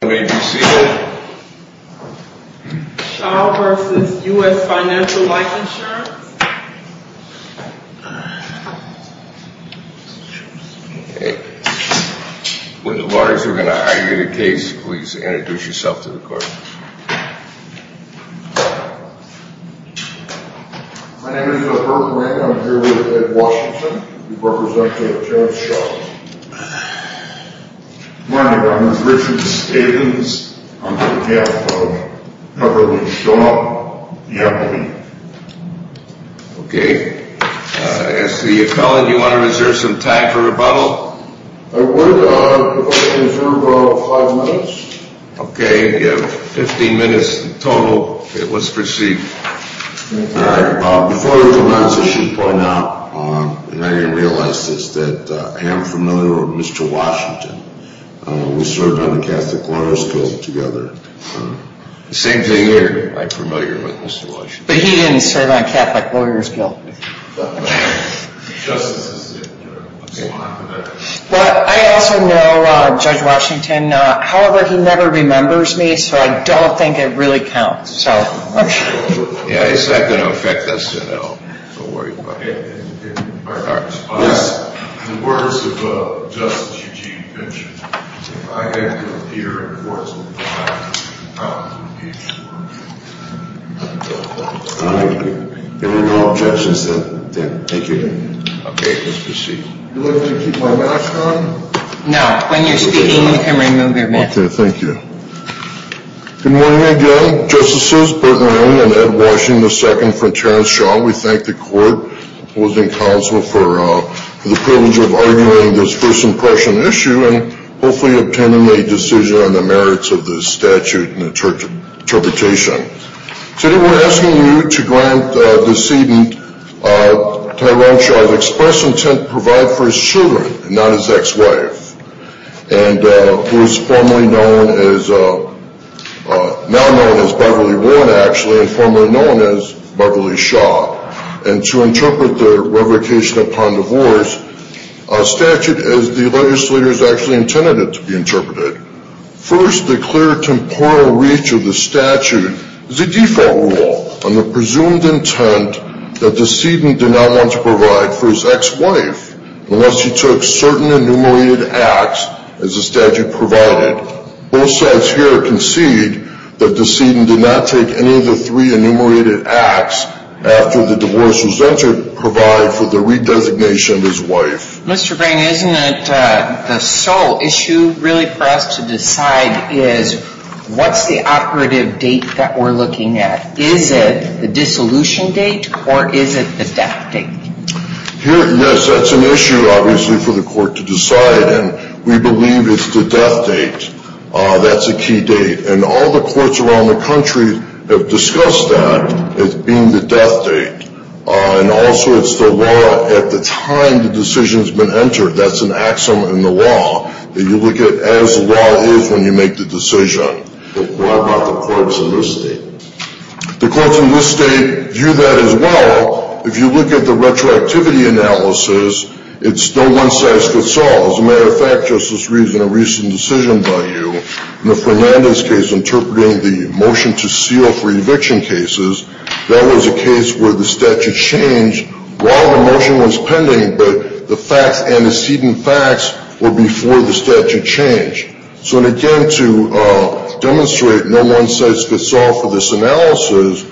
When the lawyers are going to argue the case, please introduce yourself to the court. My name is Bert Lang. I'm here with Ed Washington. We represent the insurance shop. My name is Richard Stevens. I'm on behalf of Everly Shaw, the equity. Okay. As to the appellant, do you want to reserve some time for rebuttal? I would, if I could reserve five minutes. Okay, you have 15 minutes total. Let's proceed. Before we commence, I should point out, and I didn't realize this, that I am familiar with Mr. Washington. We served on the Catholic Lawyers' Guild together. Same thing here. I'm familiar with Mr. Washington. But he didn't serve on the Catholic Lawyers' Guild. I also know Judge Washington. However, he never remembers me, so I don't think it really counts. Yeah, it's not going to affect us at all. In the words of Justice Eugene Finch, if I had to appear in court sometime, I would do it. If there are no objections, then thank you. Okay, let's proceed. Do you want me to keep my mask on? No, when you're speaking, you can remove your mask. Okay, thank you. Good morning again, Justices Bertrand and Ed Washington II from Terrence Shaw. We thank the Court, opposing counsel, for the privilege of arguing this first impression issue and hopefully obtaining a decision on the merits of this statute and interpretation. Today we're asking you to grant the decedent Tyrone Shaw's express intent to provide for his children, not his ex-wife, who is now known as Beverly Warren, actually, and formerly known as Beverly Shaw. And to interpret the revocation upon divorce statute as the legislators actually intended it to be interpreted. First, the clear temporal reach of the statute is a default rule on the presumed intent that the decedent did not want to provide for his ex-wife unless he took certain enumerated acts as the statute provided. Both sides here concede that the decedent did not take any of the three enumerated acts after the divorce was entered to provide for the redesignation of his wife. Mr. Green, isn't it the sole issue really for us to decide is what's the operative date that we're looking at? Is it the dissolution date or is it the death date? Yes, that's an issue obviously for the court to decide. And we believe it's the death date. That's a key date. And all the courts around the country have discussed that as being the death date. And also it's the law at the time the decision has been entered. That's an axiom in the law that you look at as the law is when you make the decision. But what about the courts in this state? The courts in this state view that as well. If you look at the retroactivity analysis, it's no one-size-fits-all. As a matter of fact, Justice Reed, in a recent decision by you, in the Fernandez case interpreting the motion to seal for eviction cases, that was a case where the statute changed while the motion was pending, but the facts antecedent facts were before the statute changed. So again, to demonstrate no one-size-fits-all for this analysis,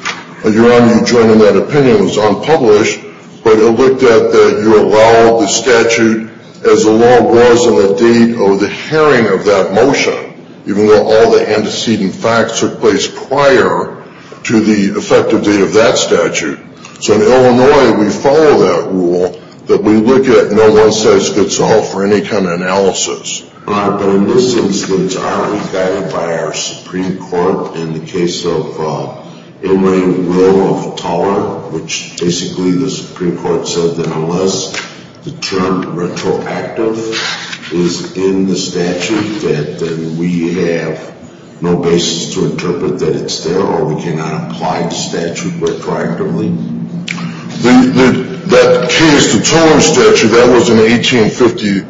Your Honor, you join in that opinion, it was unpublished, but it looked at that you allow the statute as the law was on the date or the hearing of that motion, even though all the antecedent facts took place prior to the effective date of that statute. So in Illinois, we follow that rule that we look at no one-size-fits-all for any kind of analysis. Your Honor, but in this instance, aren't we guided by our Supreme Court, in the case of inlaying will of toller, which basically the Supreme Court said that unless the term retroactive is in the statute, that then we have no basis to interpret that it's there, or we cannot apply the statute retroactively? That case, the toller statute, that was in 1875,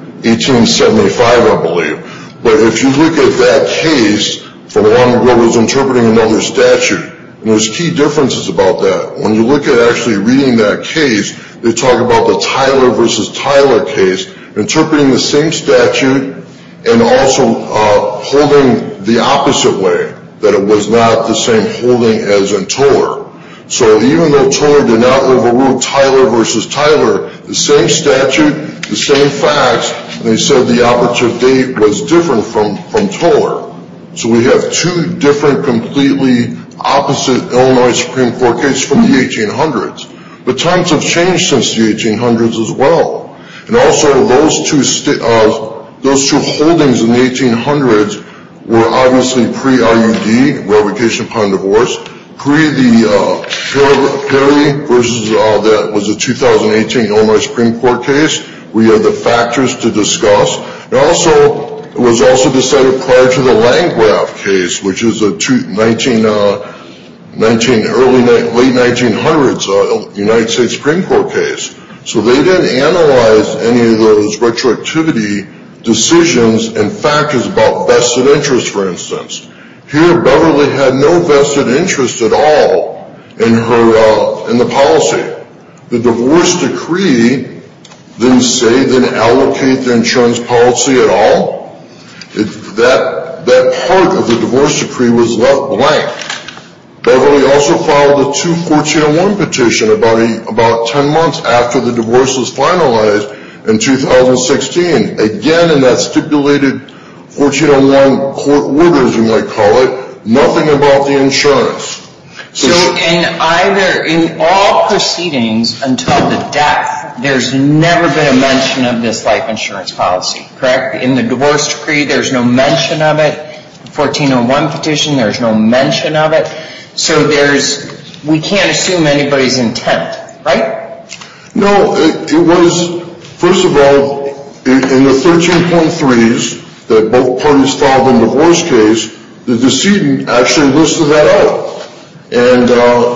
I believe. But if you look at that case from when it was interpreting another statute, there's key differences about that. When you look at actually reading that case, they talk about the Tyler versus Tyler case, interpreting the same statute and also holding the opposite way, that it was not the same holding as in toller. So even though toller did not overrule Tyler versus Tyler, the same statute, the same facts, and they said the operative date was different from toller. So we have two different, completely opposite Illinois Supreme Court cases from the 1800s. But times have changed since the 1800s as well. And also those two holdings in the 1800s were obviously pre-RUD, revocation upon divorce, pre the Perry versus that was a 2018 Illinois Supreme Court case. We have the factors to discuss. And also, it was also decided prior to the Langrath case, which is a late 1900s United States Supreme Court case. So they didn't analyze any of those retroactivity decisions and factors about vested interests, for instance. Here, Beverly had no vested interest at all in the policy. The divorce decree didn't say then allocate the insurance policy at all. That part of the divorce decree was left blank. Beverly also filed a two 1401 petition about 10 months after the divorce was finalized in 2016. Again, in that stipulated 1401 court order, as you might call it, nothing about the insurance. So in either, in all proceedings until the death, there's never been a mention of this life insurance policy, correct? In the divorce decree, there's no mention of it. The 1401 petition, there's no mention of it. So there's, we can't assume anybody's intent, right? No, it was, first of all, in the 13.3s that both parties filed in the divorce case, the decedent actually listed that out. And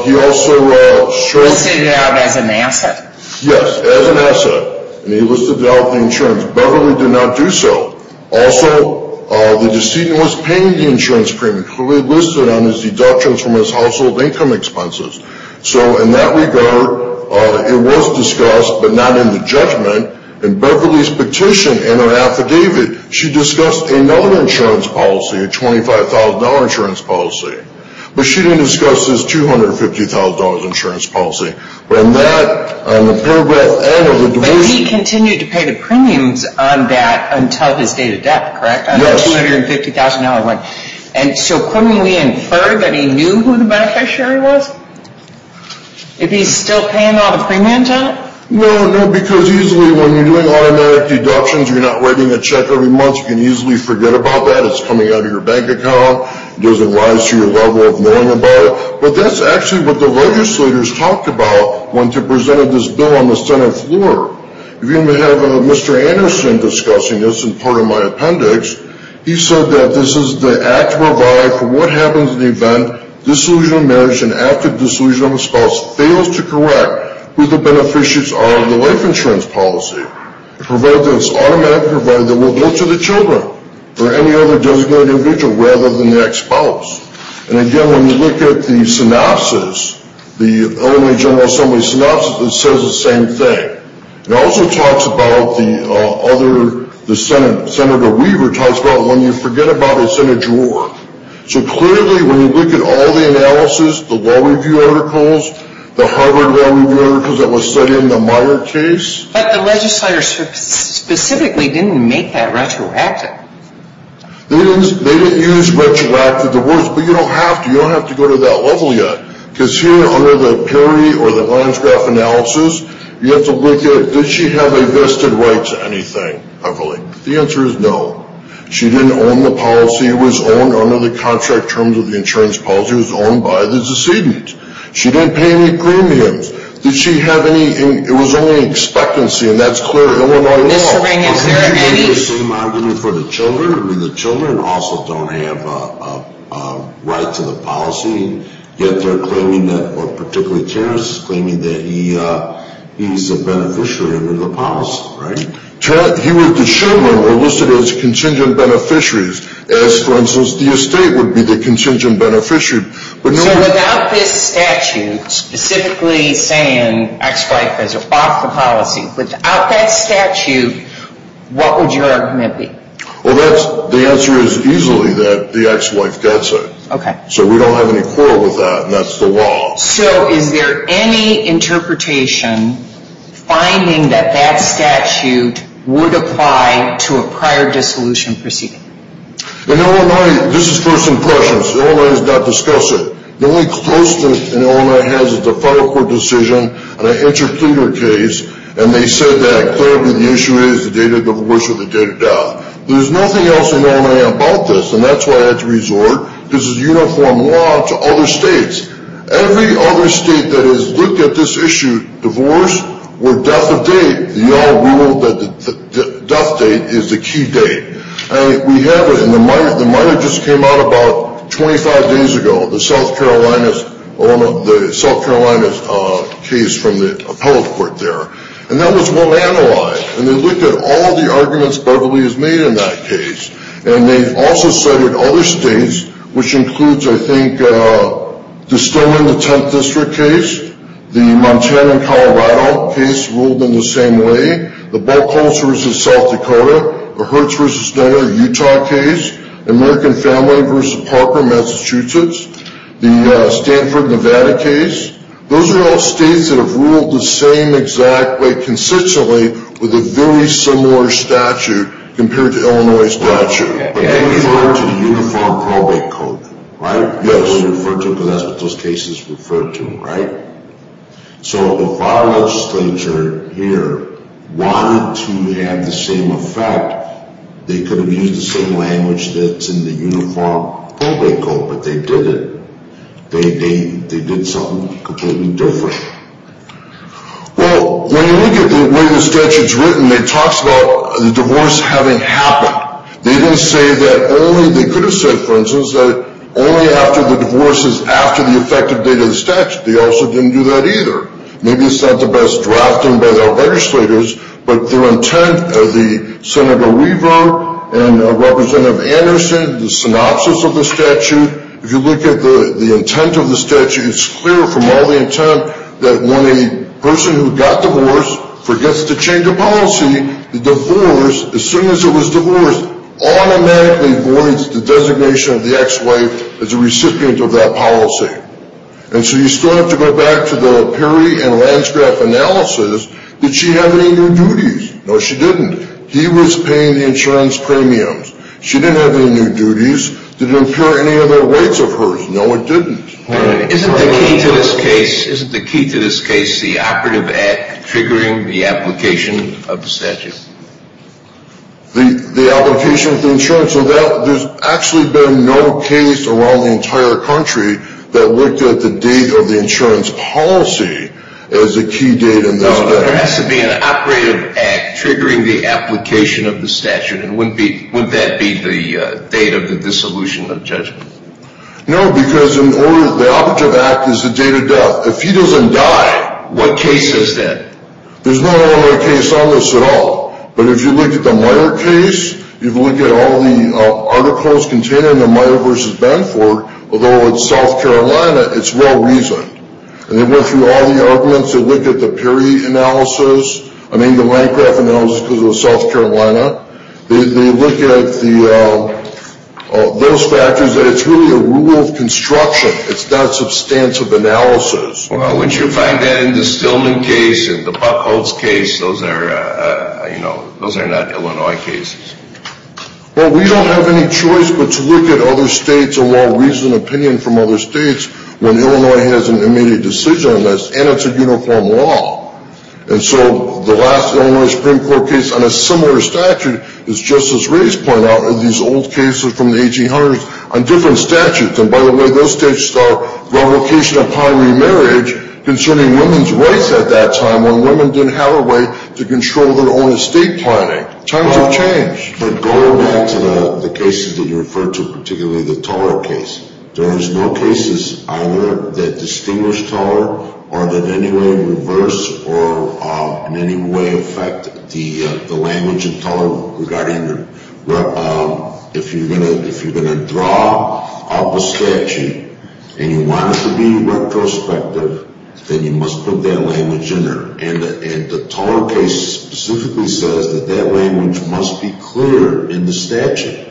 he also- Listed it out as an asset. Yes, as an asset. And he listed it out in the insurance. Beverly did not do so. Also, the decedent was paying the insurance premium. He listed it on his deductions from his household income expenses. So in that regard, it was discussed, but not in the judgment. In Beverly's petition in her affidavit, she discussed a non-insurance policy, a $25,000 insurance policy. But she didn't discuss this $250,000 insurance policy. But in that, on the paragraph N of the decree- But he continued to pay the premiums on that until his date of death, correct? Yes. On the $250,000 one. And so couldn't we infer that he knew who the beneficiary was? If he's still paying off a premium to it? No, no, because usually when you're doing automatic deductions, you're not writing a check every month. You can easily forget about that. It's coming out of your bank account. It doesn't rise to your level of knowing about it. But that's actually what the legislators talked about when they presented this bill on the Senate floor. If you have Mr. Anderson discussing this in part of my appendix, he said that this is the act to provide for what happens in the event disillusionment of marriage and active disillusionment of a spouse fails to correct who the beneficiaries are of the life insurance policy. Provide that it's automatic. Provide that it will go to the children or any other designated individual rather than the ex-spouse. And again, when you look at the synopsis, the Illinois General Assembly synopsis, it says the same thing. It also talks about the other- Senator Weaver talks about when you forget about it, it's in a drawer. So clearly, when you look at all the analysis, the law review articles, the Harvard law review articles that was studied in the Meyer case- But the legislators specifically didn't make that retroactive. They didn't use retroactive. But you don't have to. You don't have to go to that level yet. Because here, under the PERI or the Lions Graph analysis, you have to look at did she have a vested right to anything, hopefully. The answer is no. She didn't own the policy. It was owned under the contract terms of the insurance policy. It was owned by the decedent. She didn't pay any premiums. Did she have any- It was only expectancy, and that's clear Illinois law. The same argument for the children. The children also don't have a right to the policy, yet they're claiming that- or particularly Terrence is claiming that he's a beneficiary under the policy. The children were listed as contingent beneficiaries, as, for instance, the estate would be the contingent beneficiary. So without this statute specifically saying ex-wife is off the policy, without that statute, what would your argument be? The answer is easily that the ex-wife gets it. So we don't have any quarrel with that, and that's the law. So is there any interpretation finding that that statute would apply to a prior dissolution proceeding? In Illinois, this is first impressions. Illinois has not discussed it. The only closeness Illinois has is a federal court decision, and an intercourter case, and they said that, clearly, the issue is the data of abortion or the data of death. There's nothing else in Illinois about this, and that's why I had to resort. This is uniform law to other states. Every other state that has looked at this issue, divorce or death of date, we all know that the death date is the key date, and we have it in the minor. The minor just came out about 25 days ago, the South Carolina case from the appellate court there, and that was well-analyzed, and they looked at all the arguments Beverly has made in that case, and they've also cited other states, which includes, I think, the Stoneman, the 10th District case, the Montana and Colorado case ruled in the same way, the Bulkholz v. South Dakota, the Hertz v. Snowyer Utah case, the American Family v. Parker Massachusetts, the Stanford Nevada case. Those are all states that have ruled the same exact way consistently with a very similar statute compared to Illinois' statute. But they refer to the Uniform Probate Code, right? Yes. They refer to it because that's what those cases refer to, right? So if our legislature here wanted to have the same effect, they could have used the same language that's in the Uniform Probate Code, but they didn't. They did something completely different. Well, when you look at the way the statute is written, it talks about the divorce having happened. They didn't say that only, they could have said, for instance, that only after the divorce is after the effective date of the statute. They also didn't do that either. Maybe it's not the best drafting by their legislators, but their intent, Senator Weaver and Representative Anderson, the synopsis of the statute, if you look at the intent of the statute, it's clear from all the intent that when a person who got divorced forgets to change a policy, the divorce, as soon as it was divorced, automatically voids the designation of the ex-wife as a recipient of that policy. And so you still have to go back to the Perry and Landsgraf analysis. Did she have any new duties? No, she didn't. He was paying the insurance premiums. She didn't have any new duties. Did it impair any of the rights of hers? No, it didn't. Isn't the key to this case the operative act triggering the application of the statute? The application of the insurance. There's actually been no case around the entire country that looked at the date of the insurance policy as a key date in this case. No, but there has to be an operative act triggering the application of the statute, and wouldn't that be the date of the dissolution of judgment? No, because the operative act is the date of death. If he doesn't die, what case is it? There's no other case on this at all. But if you look at the Meyer case, if you look at all the articles contained in the Meyer v. Benford, although it's South Carolina, it's well-reasoned. And they went through all the arguments. They looked at the Perry analysis. I mean, the Landgraf analysis because it was South Carolina. They look at those factors, and it's really a rule of construction. It's not substantive analysis. Well, wouldn't you find that in the Stillman case and the Buckholtz case, those are not Illinois cases? Well, we don't have any choice but to look at other states, a well-reasoned opinion from other states when Illinois has an immediate decision on this, and it's a uniform law. And so the last Illinois Supreme Court case on a similar statute, as Justice Reyes pointed out, are these old cases from the 1800s on different statutes. And, by the way, those states saw revocation upon remarriage concerning women's rights at that time when women didn't have a way to control their own estate planning. Times have changed. But going back to the cases that you referred to, particularly the Toller case, there is no cases either that distinguish Toller or that in any way reverse or in any way affect the language of Toller regarding the – if you're going to draw up a statute and you want it to be retrospective, then you must put that language in there. And the Toller case specifically says that that language must be clear in the statute.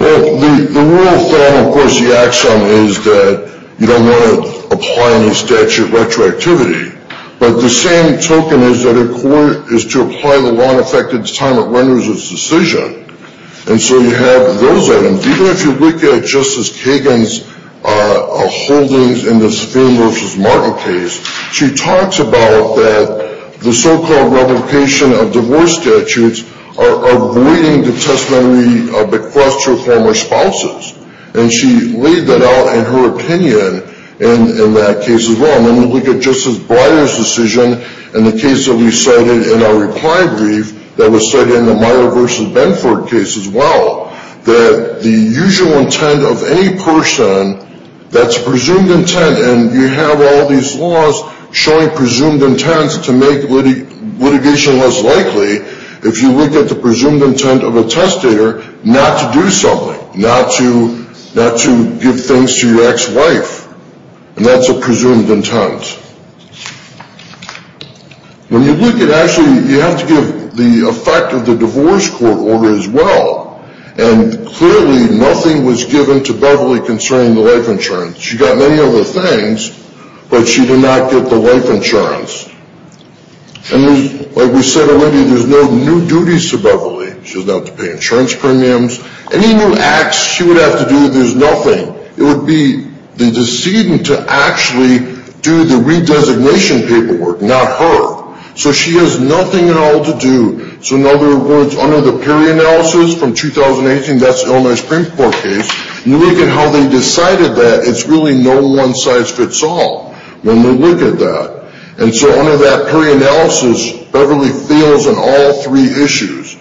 Well, the rule of thumb, of course, the axiom is that you don't want to apply any statute retroactivity. But the same token is that a court is to apply the law in effect at the time it renders its decision. And so you have those items. Even if you look at Justice Kagan's holdings in the Spain v. Martin case, she talks about the so-called revocation of divorce statutes avoiding the testamentary bequest to her former spouses. And she laid that out in her opinion in that case as well. And then we look at Justice Breyer's decision in the case that we cited in our reply brief that was cited in the Meyer v. Benford case as well, that the usual intent of any person that's presumed intent, and you have all these laws showing presumed intents to make litigation less likely if you look at the presumed intent of a testator not to do something, not to give things to your ex-wife. And that's a presumed intent. When you look at it, actually, you have to give the effect of the divorce court order as well. And clearly nothing was given to Beverly concerning the life insurance. She got many other things, but she did not get the life insurance. And, like we said already, there's no new duties to Beverly. She doesn't have to pay insurance premiums. Any new acts she would have to do, there's nothing. It would be the decision to actually do the redesignation paperwork, not her. So she has nothing at all to do. So, in other words, under the PERI analysis from 2018, that's the Illinois Supreme Court case, you look at how they decided that, it's really no one-size-fits-all. When we look at that, and so under that PERI analysis, Beverly feels on all three issues.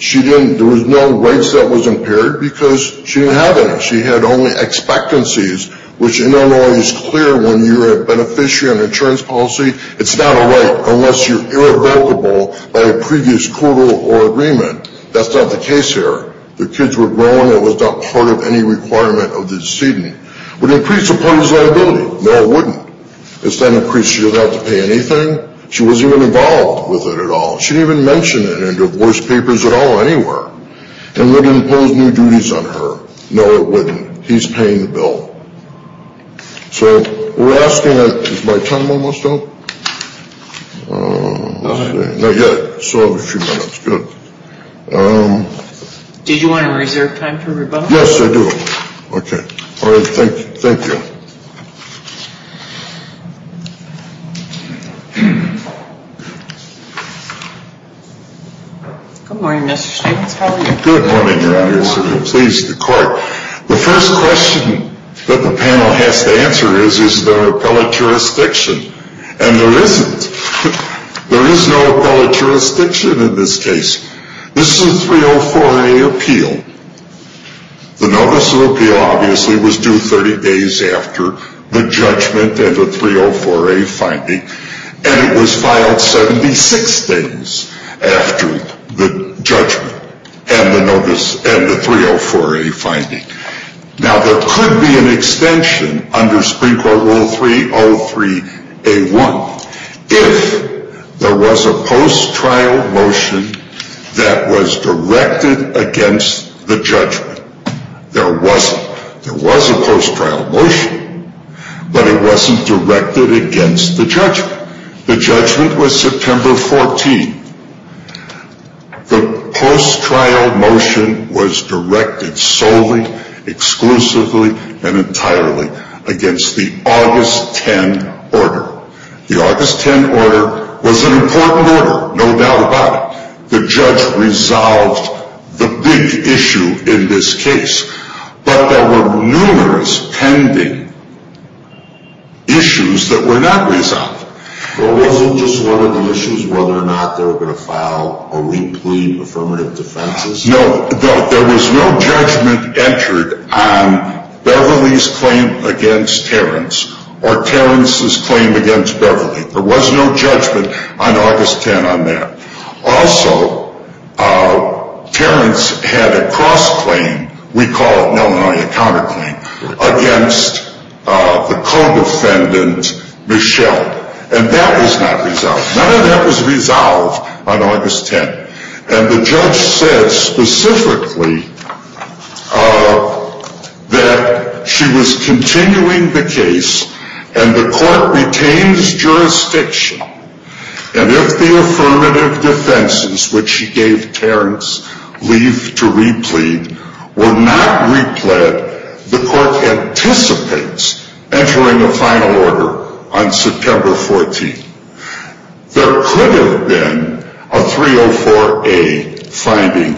She didn't, there was no rights that was impaired because she didn't have any. She had only expectancies, which Illinois is clear when you're a beneficiary on insurance policy, it's not a right unless you're irrevocable by a previous court order or agreement. That's not the case here. The kids were grown. It was not part of any requirement of the decedent. Would it increase a party's liability? No, it wouldn't. It's not an increase she would have to pay anything. She wasn't even involved with it at all. She didn't even mention it in divorce papers at all, anywhere. And would it impose new duties on her? No, it wouldn't. He's paying the bill. So, we're asking, is my time almost up? Let's see. Not yet. Still have a few minutes. Good. Did you want to reserve time for rebuttal? Yes, I do. Okay. All right. Thank you. Good morning, Mr. Stevens. How are you? Good morning. I'm pleased to court. The first question that the panel has to answer is, is there appellate jurisdiction? And there isn't. There is no appellate jurisdiction in this case. This is a 304A appeal. The notice of appeal obviously was due 30 days after the judgment and the 304A finding. And it was filed 76 days after the judgment and the 304A finding. Now, there could be an extension under Supreme Court Rule 303A1 if there was a post-trial motion that was directed against the judgment. There wasn't. There was a post-trial motion, but it wasn't directed against the judgment. The judgment was September 14. The post-trial motion was directed solely, exclusively, and entirely against the August 10 order. The August 10 order was an important order, no doubt about it. The judge resolved the big issue in this case. But there were numerous pending issues that were not resolved. But wasn't just one of the issues whether or not they were going to file a wrinkly affirmative defense? No. There was no judgment entered on Beverly's claim against Terrence or Terrence's claim against Beverly. There was no judgment on August 10 on that. Also, Terrence had a cross-claim, we call it in Illinois a counter-claim, against the co-defendant, Michelle. And that was not resolved. None of that was resolved on August 10. And the judge said specifically that she was continuing the case and the court retains jurisdiction. And if the affirmative defenses, which she gave Terrence leave to replete, were not replete, the court anticipates entering a final order on September 14. There could have been a 304A finding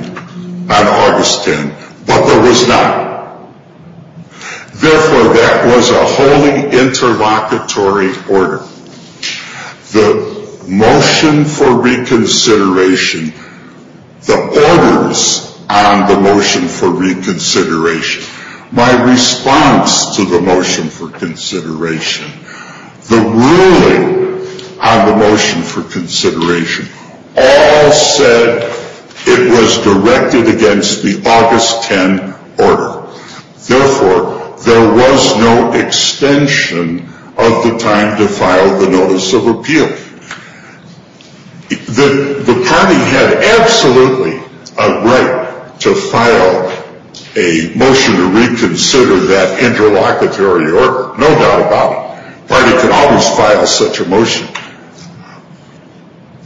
on August 10, but there was not. Therefore, that was a wholly interlocutory order. The motion for reconsideration, the orders on the motion for reconsideration, my response to the motion for consideration, the ruling on the motion for consideration, all said it was directed against the August 10 order. Therefore, there was no extension of the time to file the notice of appeal. The party had absolutely a right to file a motion to reconsider that interlocutory order. No doubt about it. The party could always file such a motion.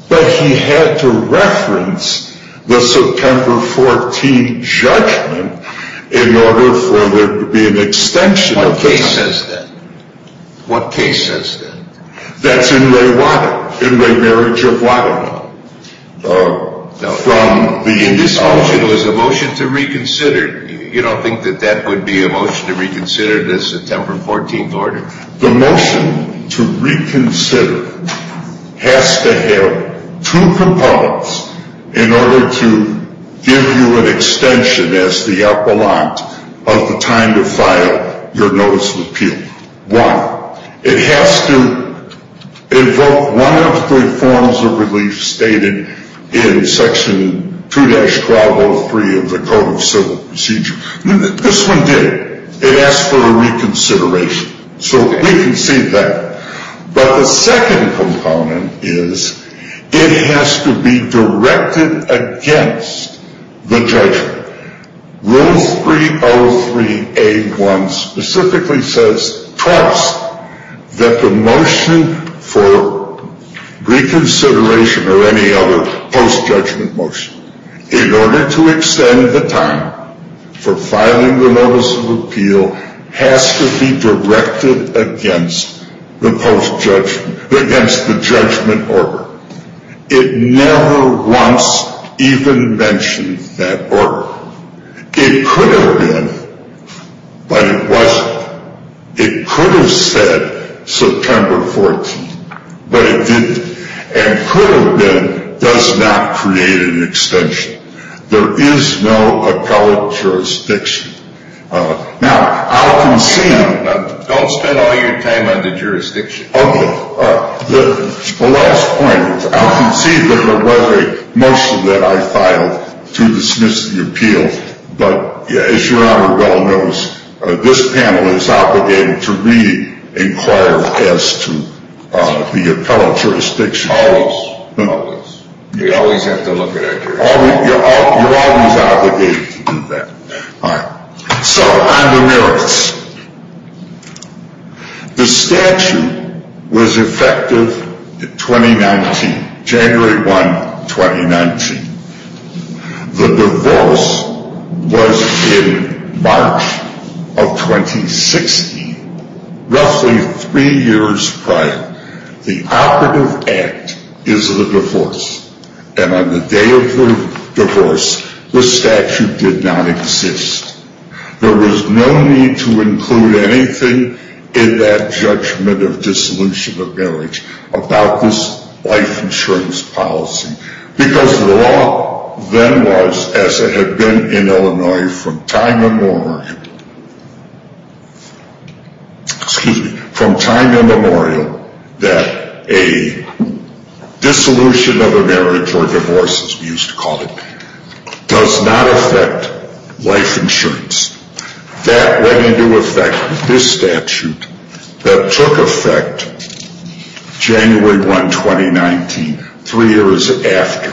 But he had to reference the September 14 judgment in order for there to be an extension of the time. What case says that? That's In re Wada, In re Marriage of Wada. This motion was a motion to reconsider. You don't think that that would be a motion to reconsider the September 14 order? The motion to reconsider has to have two components in order to give you an extension, as the appellant, Why? It has to invoke one of the forms of relief stated in Section 2-1203 of the Code of Civil Procedure. This one did. It asked for a reconsideration. So we can see that. But the second component is it has to be directed against the judgment. Rule 303-A-1 specifically says twice that the motion for reconsideration or any other post-judgment motion in order to extend the time for filing the notice of appeal has to be directed against the post-judgment, against the judgment order. It never once even mentioned that order. It could have been, but it wasn't. It could have said September 14, but it didn't. And could have been does not create an extension. There is no appellate jurisdiction. Now, I'll concede. Don't spend all your time on the jurisdiction. Okay. The last point is I'll concede that there was a motion that I filed to dismiss the appeal, but as Your Honor well knows, this panel is obligated to re-inquire as to the appellate jurisdiction. Always. Always. You always have to look at our jurisdiction. You're always obligated to do that. All right. So on the merits. The statute was effective January 1, 2019. The divorce was in March of 2016, roughly three years prior. The operative act is the divorce. And on the day of the divorce, the statute did not exist. There was no need to include anything in that judgment of dissolution of marriage about this life insurance policy. Because the law then was, as it had been in Illinois from time immemorial, excuse me, life insurance. That went into effect with this statute that took effect January 1, 2019, three years after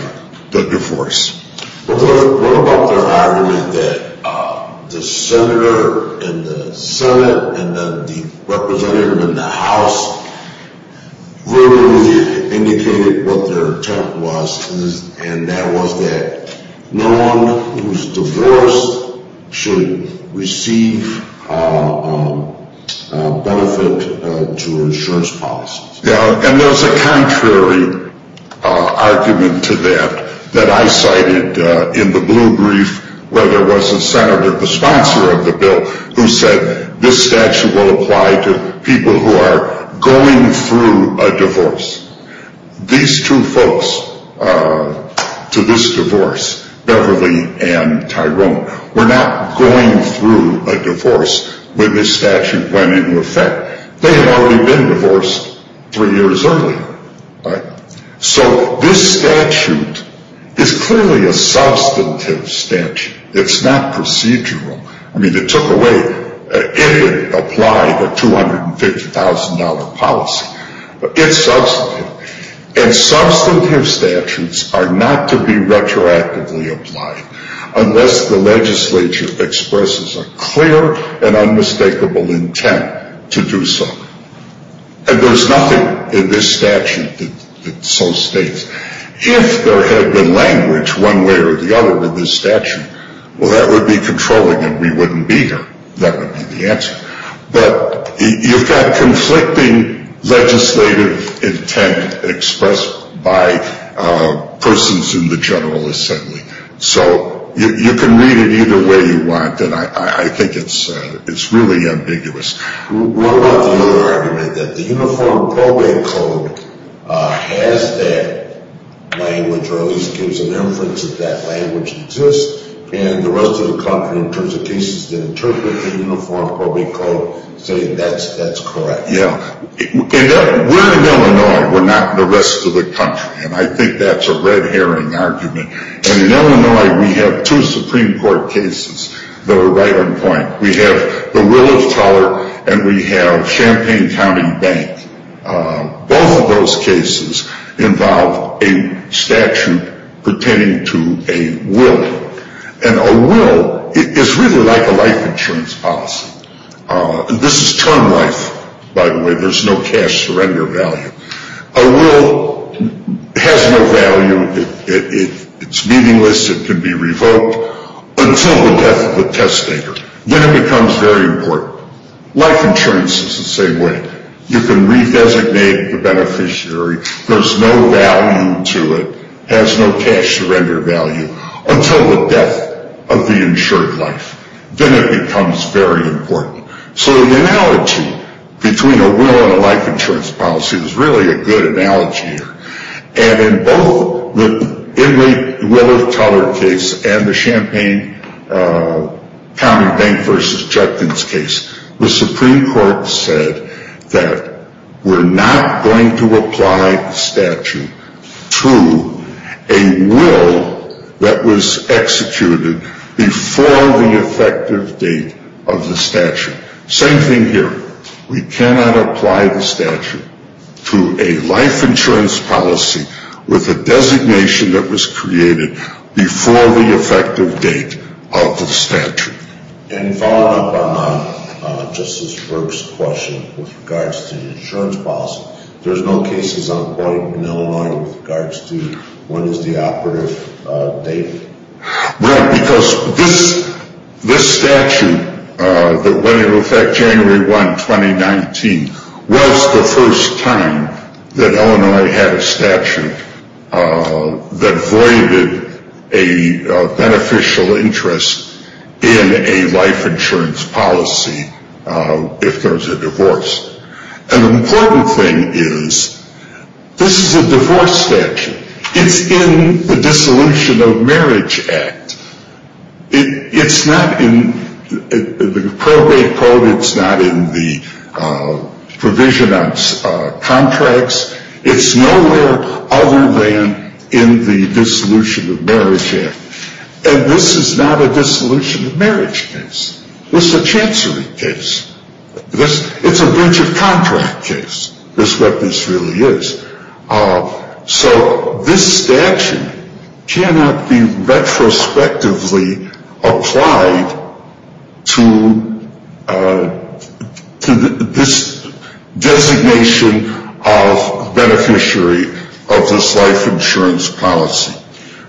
the divorce. What about the argument that the senator in the Senate and the representative in the House verbally indicated what their intent was, and that was that no one who is divorced should receive benefit to insurance policies? And there's a contrary argument to that that I cited in the blue brief where there was a senator, the sponsor of the bill, who said this statute will apply to people who are going through a divorce. These two folks to this divorce, Beverly and Tyrone, were not going through a divorce when this statute went into effect. They had already been divorced three years earlier. So this statute is clearly a substantive statute. It's not procedural. I mean, it took away, it applied a $250,000 policy. It's substantive. And substantive statutes are not to be retroactively applied unless the legislature expresses a clear and unmistakable intent to do so. And there's nothing in this statute that so states. If there had been language one way or the other in this statute, well, that would be controlling and we wouldn't be here. That would be the answer. But you've got conflicting legislative intent expressed by persons in the General Assembly. So you can read it either way you want. And I think it's really ambiguous. What about the other argument that the Uniform Probate Code has that language or at least gives an inference that that language exists, and the rest of the country in terms of cases that interpret the Uniform Probate Code say that's correct? Yeah. We're in Illinois. We're not in the rest of the country. And I think that's a red herring argument. And in Illinois, we have two Supreme Court cases that were right on point. We have the Will of Toler and we have Champaign County Bank. Both of those cases involve a statute pertaining to a will. And a will is really like a life insurance policy. This is term life, by the way. There's no cash surrender value. A will has no value. It's meaningless. It can be revoked until the death of the test taker. Then it becomes very important. Life insurance is the same way. You can redesignate the beneficiary. There's no value to it, has no cash surrender value until the death of the insured life. Then it becomes very important. So the analogy between a will and a life insurance policy is really a good analogy here. And in both the Inmate Will of Toler case and the Champaign County Bank v. Judges case, the Supreme Court said that we're not going to apply the statute to a will that was executed before the effective date of the statute. Same thing here. We cannot apply the statute to a life insurance policy with a designation that was created before the effective date of the statute. And following up on Justice Berg's question with regards to the insurance policy, there's no cases on point in Illinois with regards to when is the operative date? Well, because this statute that went into effect January 1, 2019, was the first time that Illinois had a statute that voided a beneficial interest in a life insurance policy if there was a divorce. An important thing is, this is a divorce statute. It's in the Dissolution of Marriage Act. It's not in the probate code. It's not in the provision of contracts. It's nowhere other than in the Dissolution of Marriage Act. And this is not a dissolution of marriage case. This is a chancery case. It's a bridge of contract case is what this really is. So this statute cannot be retrospectively applied to this designation of beneficiary of this life insurance policy.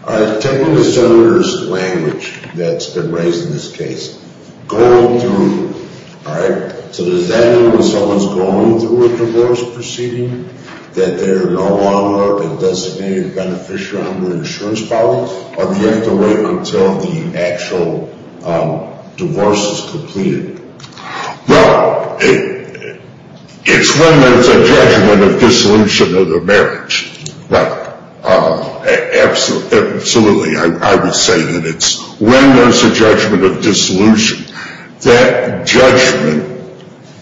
Tell me the senator's language that's been raised in this case. Go through. All right. So does that mean when someone's going through a divorce proceeding that they're no longer a designated beneficiary under the insurance policy? Or do you have to wait until the actual divorce is completed? Well, it's when there's a judgment of dissolution of the marriage. Right. Absolutely. That judgment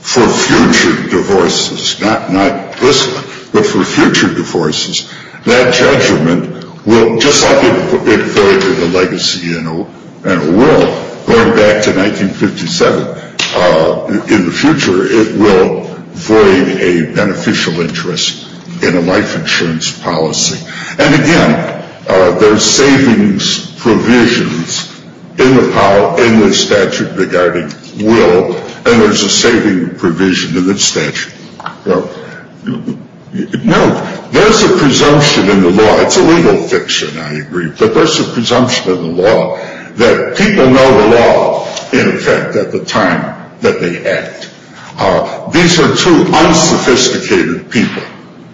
for future divorces, not this one, but for future divorces, that judgment will, just like it voided a legacy and a will going back to 1957, in the future it will void a beneficial interest in a life insurance policy. And again, there's savings provisions in the statute regarding will, and there's a saving provision in the statute. Now, there's a presumption in the law. It's a legal fiction, I agree. But there's a presumption in the law that people know the law, in effect, at the time that they act. These are two unsophisticated people.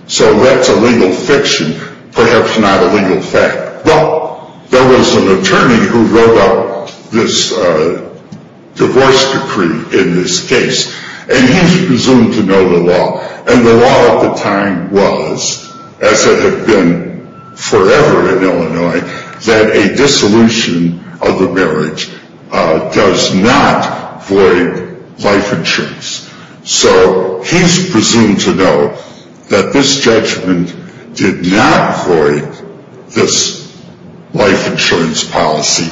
So that's a legal fiction, perhaps not a legal fact. Well, there was an attorney who wrote up this divorce decree in this case. And he's presumed to know the law. And the law at the time was, as it had been forever in Illinois, that a dissolution of the marriage does not void life insurance. So he's presumed to know that this judgment did not void this life insurance policy.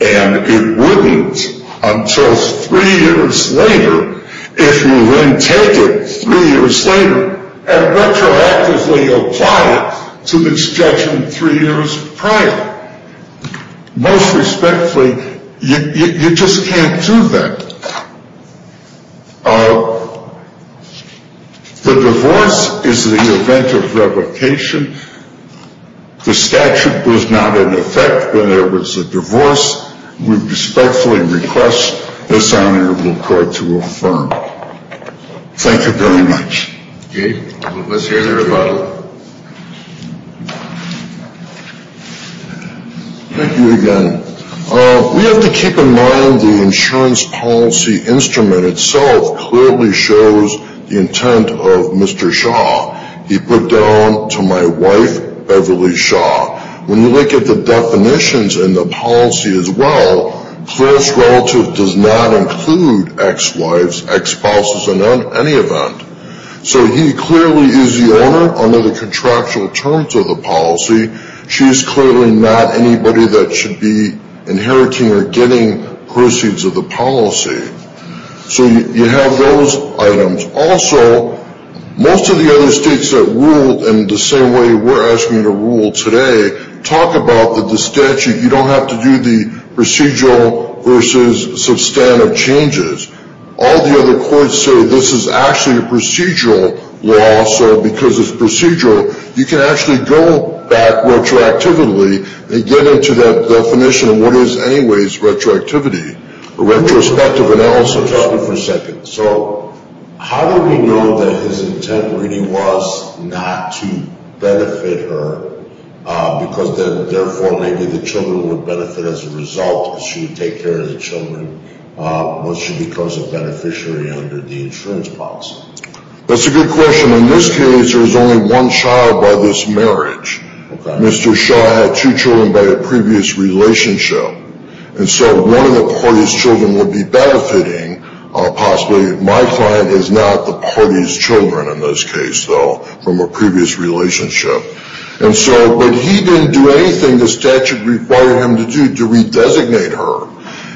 And it wouldn't until three years later, if you then take it three years later and retroactively apply it to this judgment three years prior. Most respectfully, you just can't do that. The divorce is the event of revocation. The statute was not in effect when there was a divorce. We respectfully request this honorable court to affirm. Thank you very much. Okay. Let's hear the rebuttal. Thank you again. We have to keep in mind the insurance policy instrument itself clearly shows the intent of Mr. Shaw. He put down to my wife, Beverly Shaw. When you look at the definitions in the policy as well, close relative does not include ex-wives, ex-spouses in any event. So he clearly is the owner under the contractual terms of the policy. She is clearly not anybody that should be inheriting or getting proceeds of the policy. So you have those items. Also, most of the other states that ruled in the same way we're asking you to rule today, talk about the statute. You don't have to do the procedural versus substantive changes. All the other courts say this is actually a procedural law. So because it's procedural, you can actually go back retroactively and get into that definition of what is anyways retroactivity or retrospective analysis. So how do we know that his intent really was not to benefit her, because then therefore maybe the children would benefit as a result if she would take care of the children once she becomes a beneficiary under the insurance policy? That's a good question. In this case, there was only one child by this marriage. Mr. Shaw had two children by a previous relationship. And so one of the party's children would be benefiting. Possibly my client is not the party's children in this case, though, from a previous relationship. But he didn't do anything the statute required him to do to redesignate her.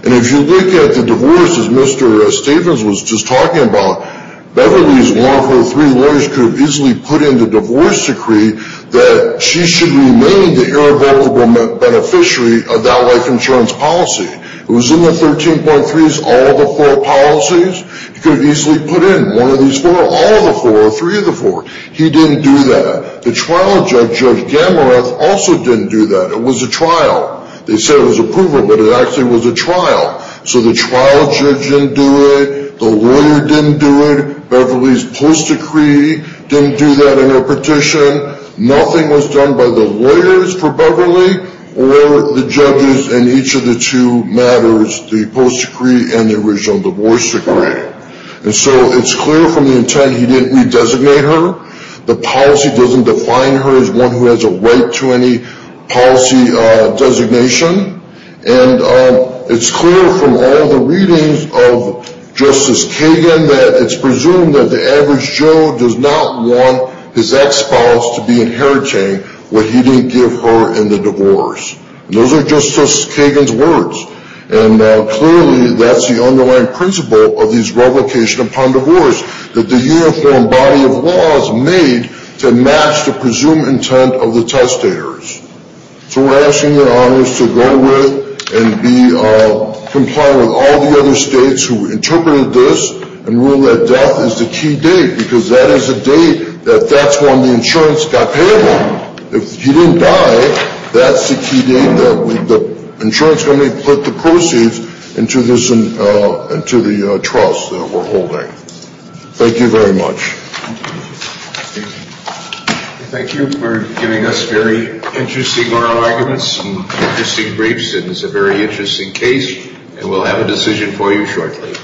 And if you look at the divorce, as Mr. Stephens was just talking about, Beverly's one of her three lawyers could have easily put in the divorce decree that she should remain the irrevocable beneficiary of that life insurance policy. It was in the 13.3s, all of the four policies. He could have easily put in one of these four, all of the four, or three of the four. He didn't do that. The trial judge, Judge Gamareth, also didn't do that. It was a trial. They said it was approval, but it actually was a trial. So the trial judge didn't do it. The lawyer didn't do it. Beverly's post decree didn't do that in her petition. Nothing was done by the lawyers for Beverly or the judges in each of the two matters, the post decree and the original divorce decree. And so it's clear from the intent he didn't redesignate her. The policy doesn't define her as one who has a right to any policy designation. And it's clear from all the readings of Justice Kagan that it's presumed that the average Joe does not want his ex-spouse to be inheriting what he didn't give her in the divorce. Those are Justice Kagan's words. And clearly that's the underlying principle of his revocation upon divorce, that the uniform body of law is made to match the presumed intent of the testators. So we're asking your honors to go with and be compliant with all the other states who interpreted this and ruled that death is the key date because that is a date that that's when the insurance got paid on. If you didn't die, that's the key date that the insurance company put the proceeds into the trust that we're holding. Thank you very much. Thank you for giving us very interesting oral arguments and interesting briefs. It was a very interesting case, and we'll have a decision for you shortly.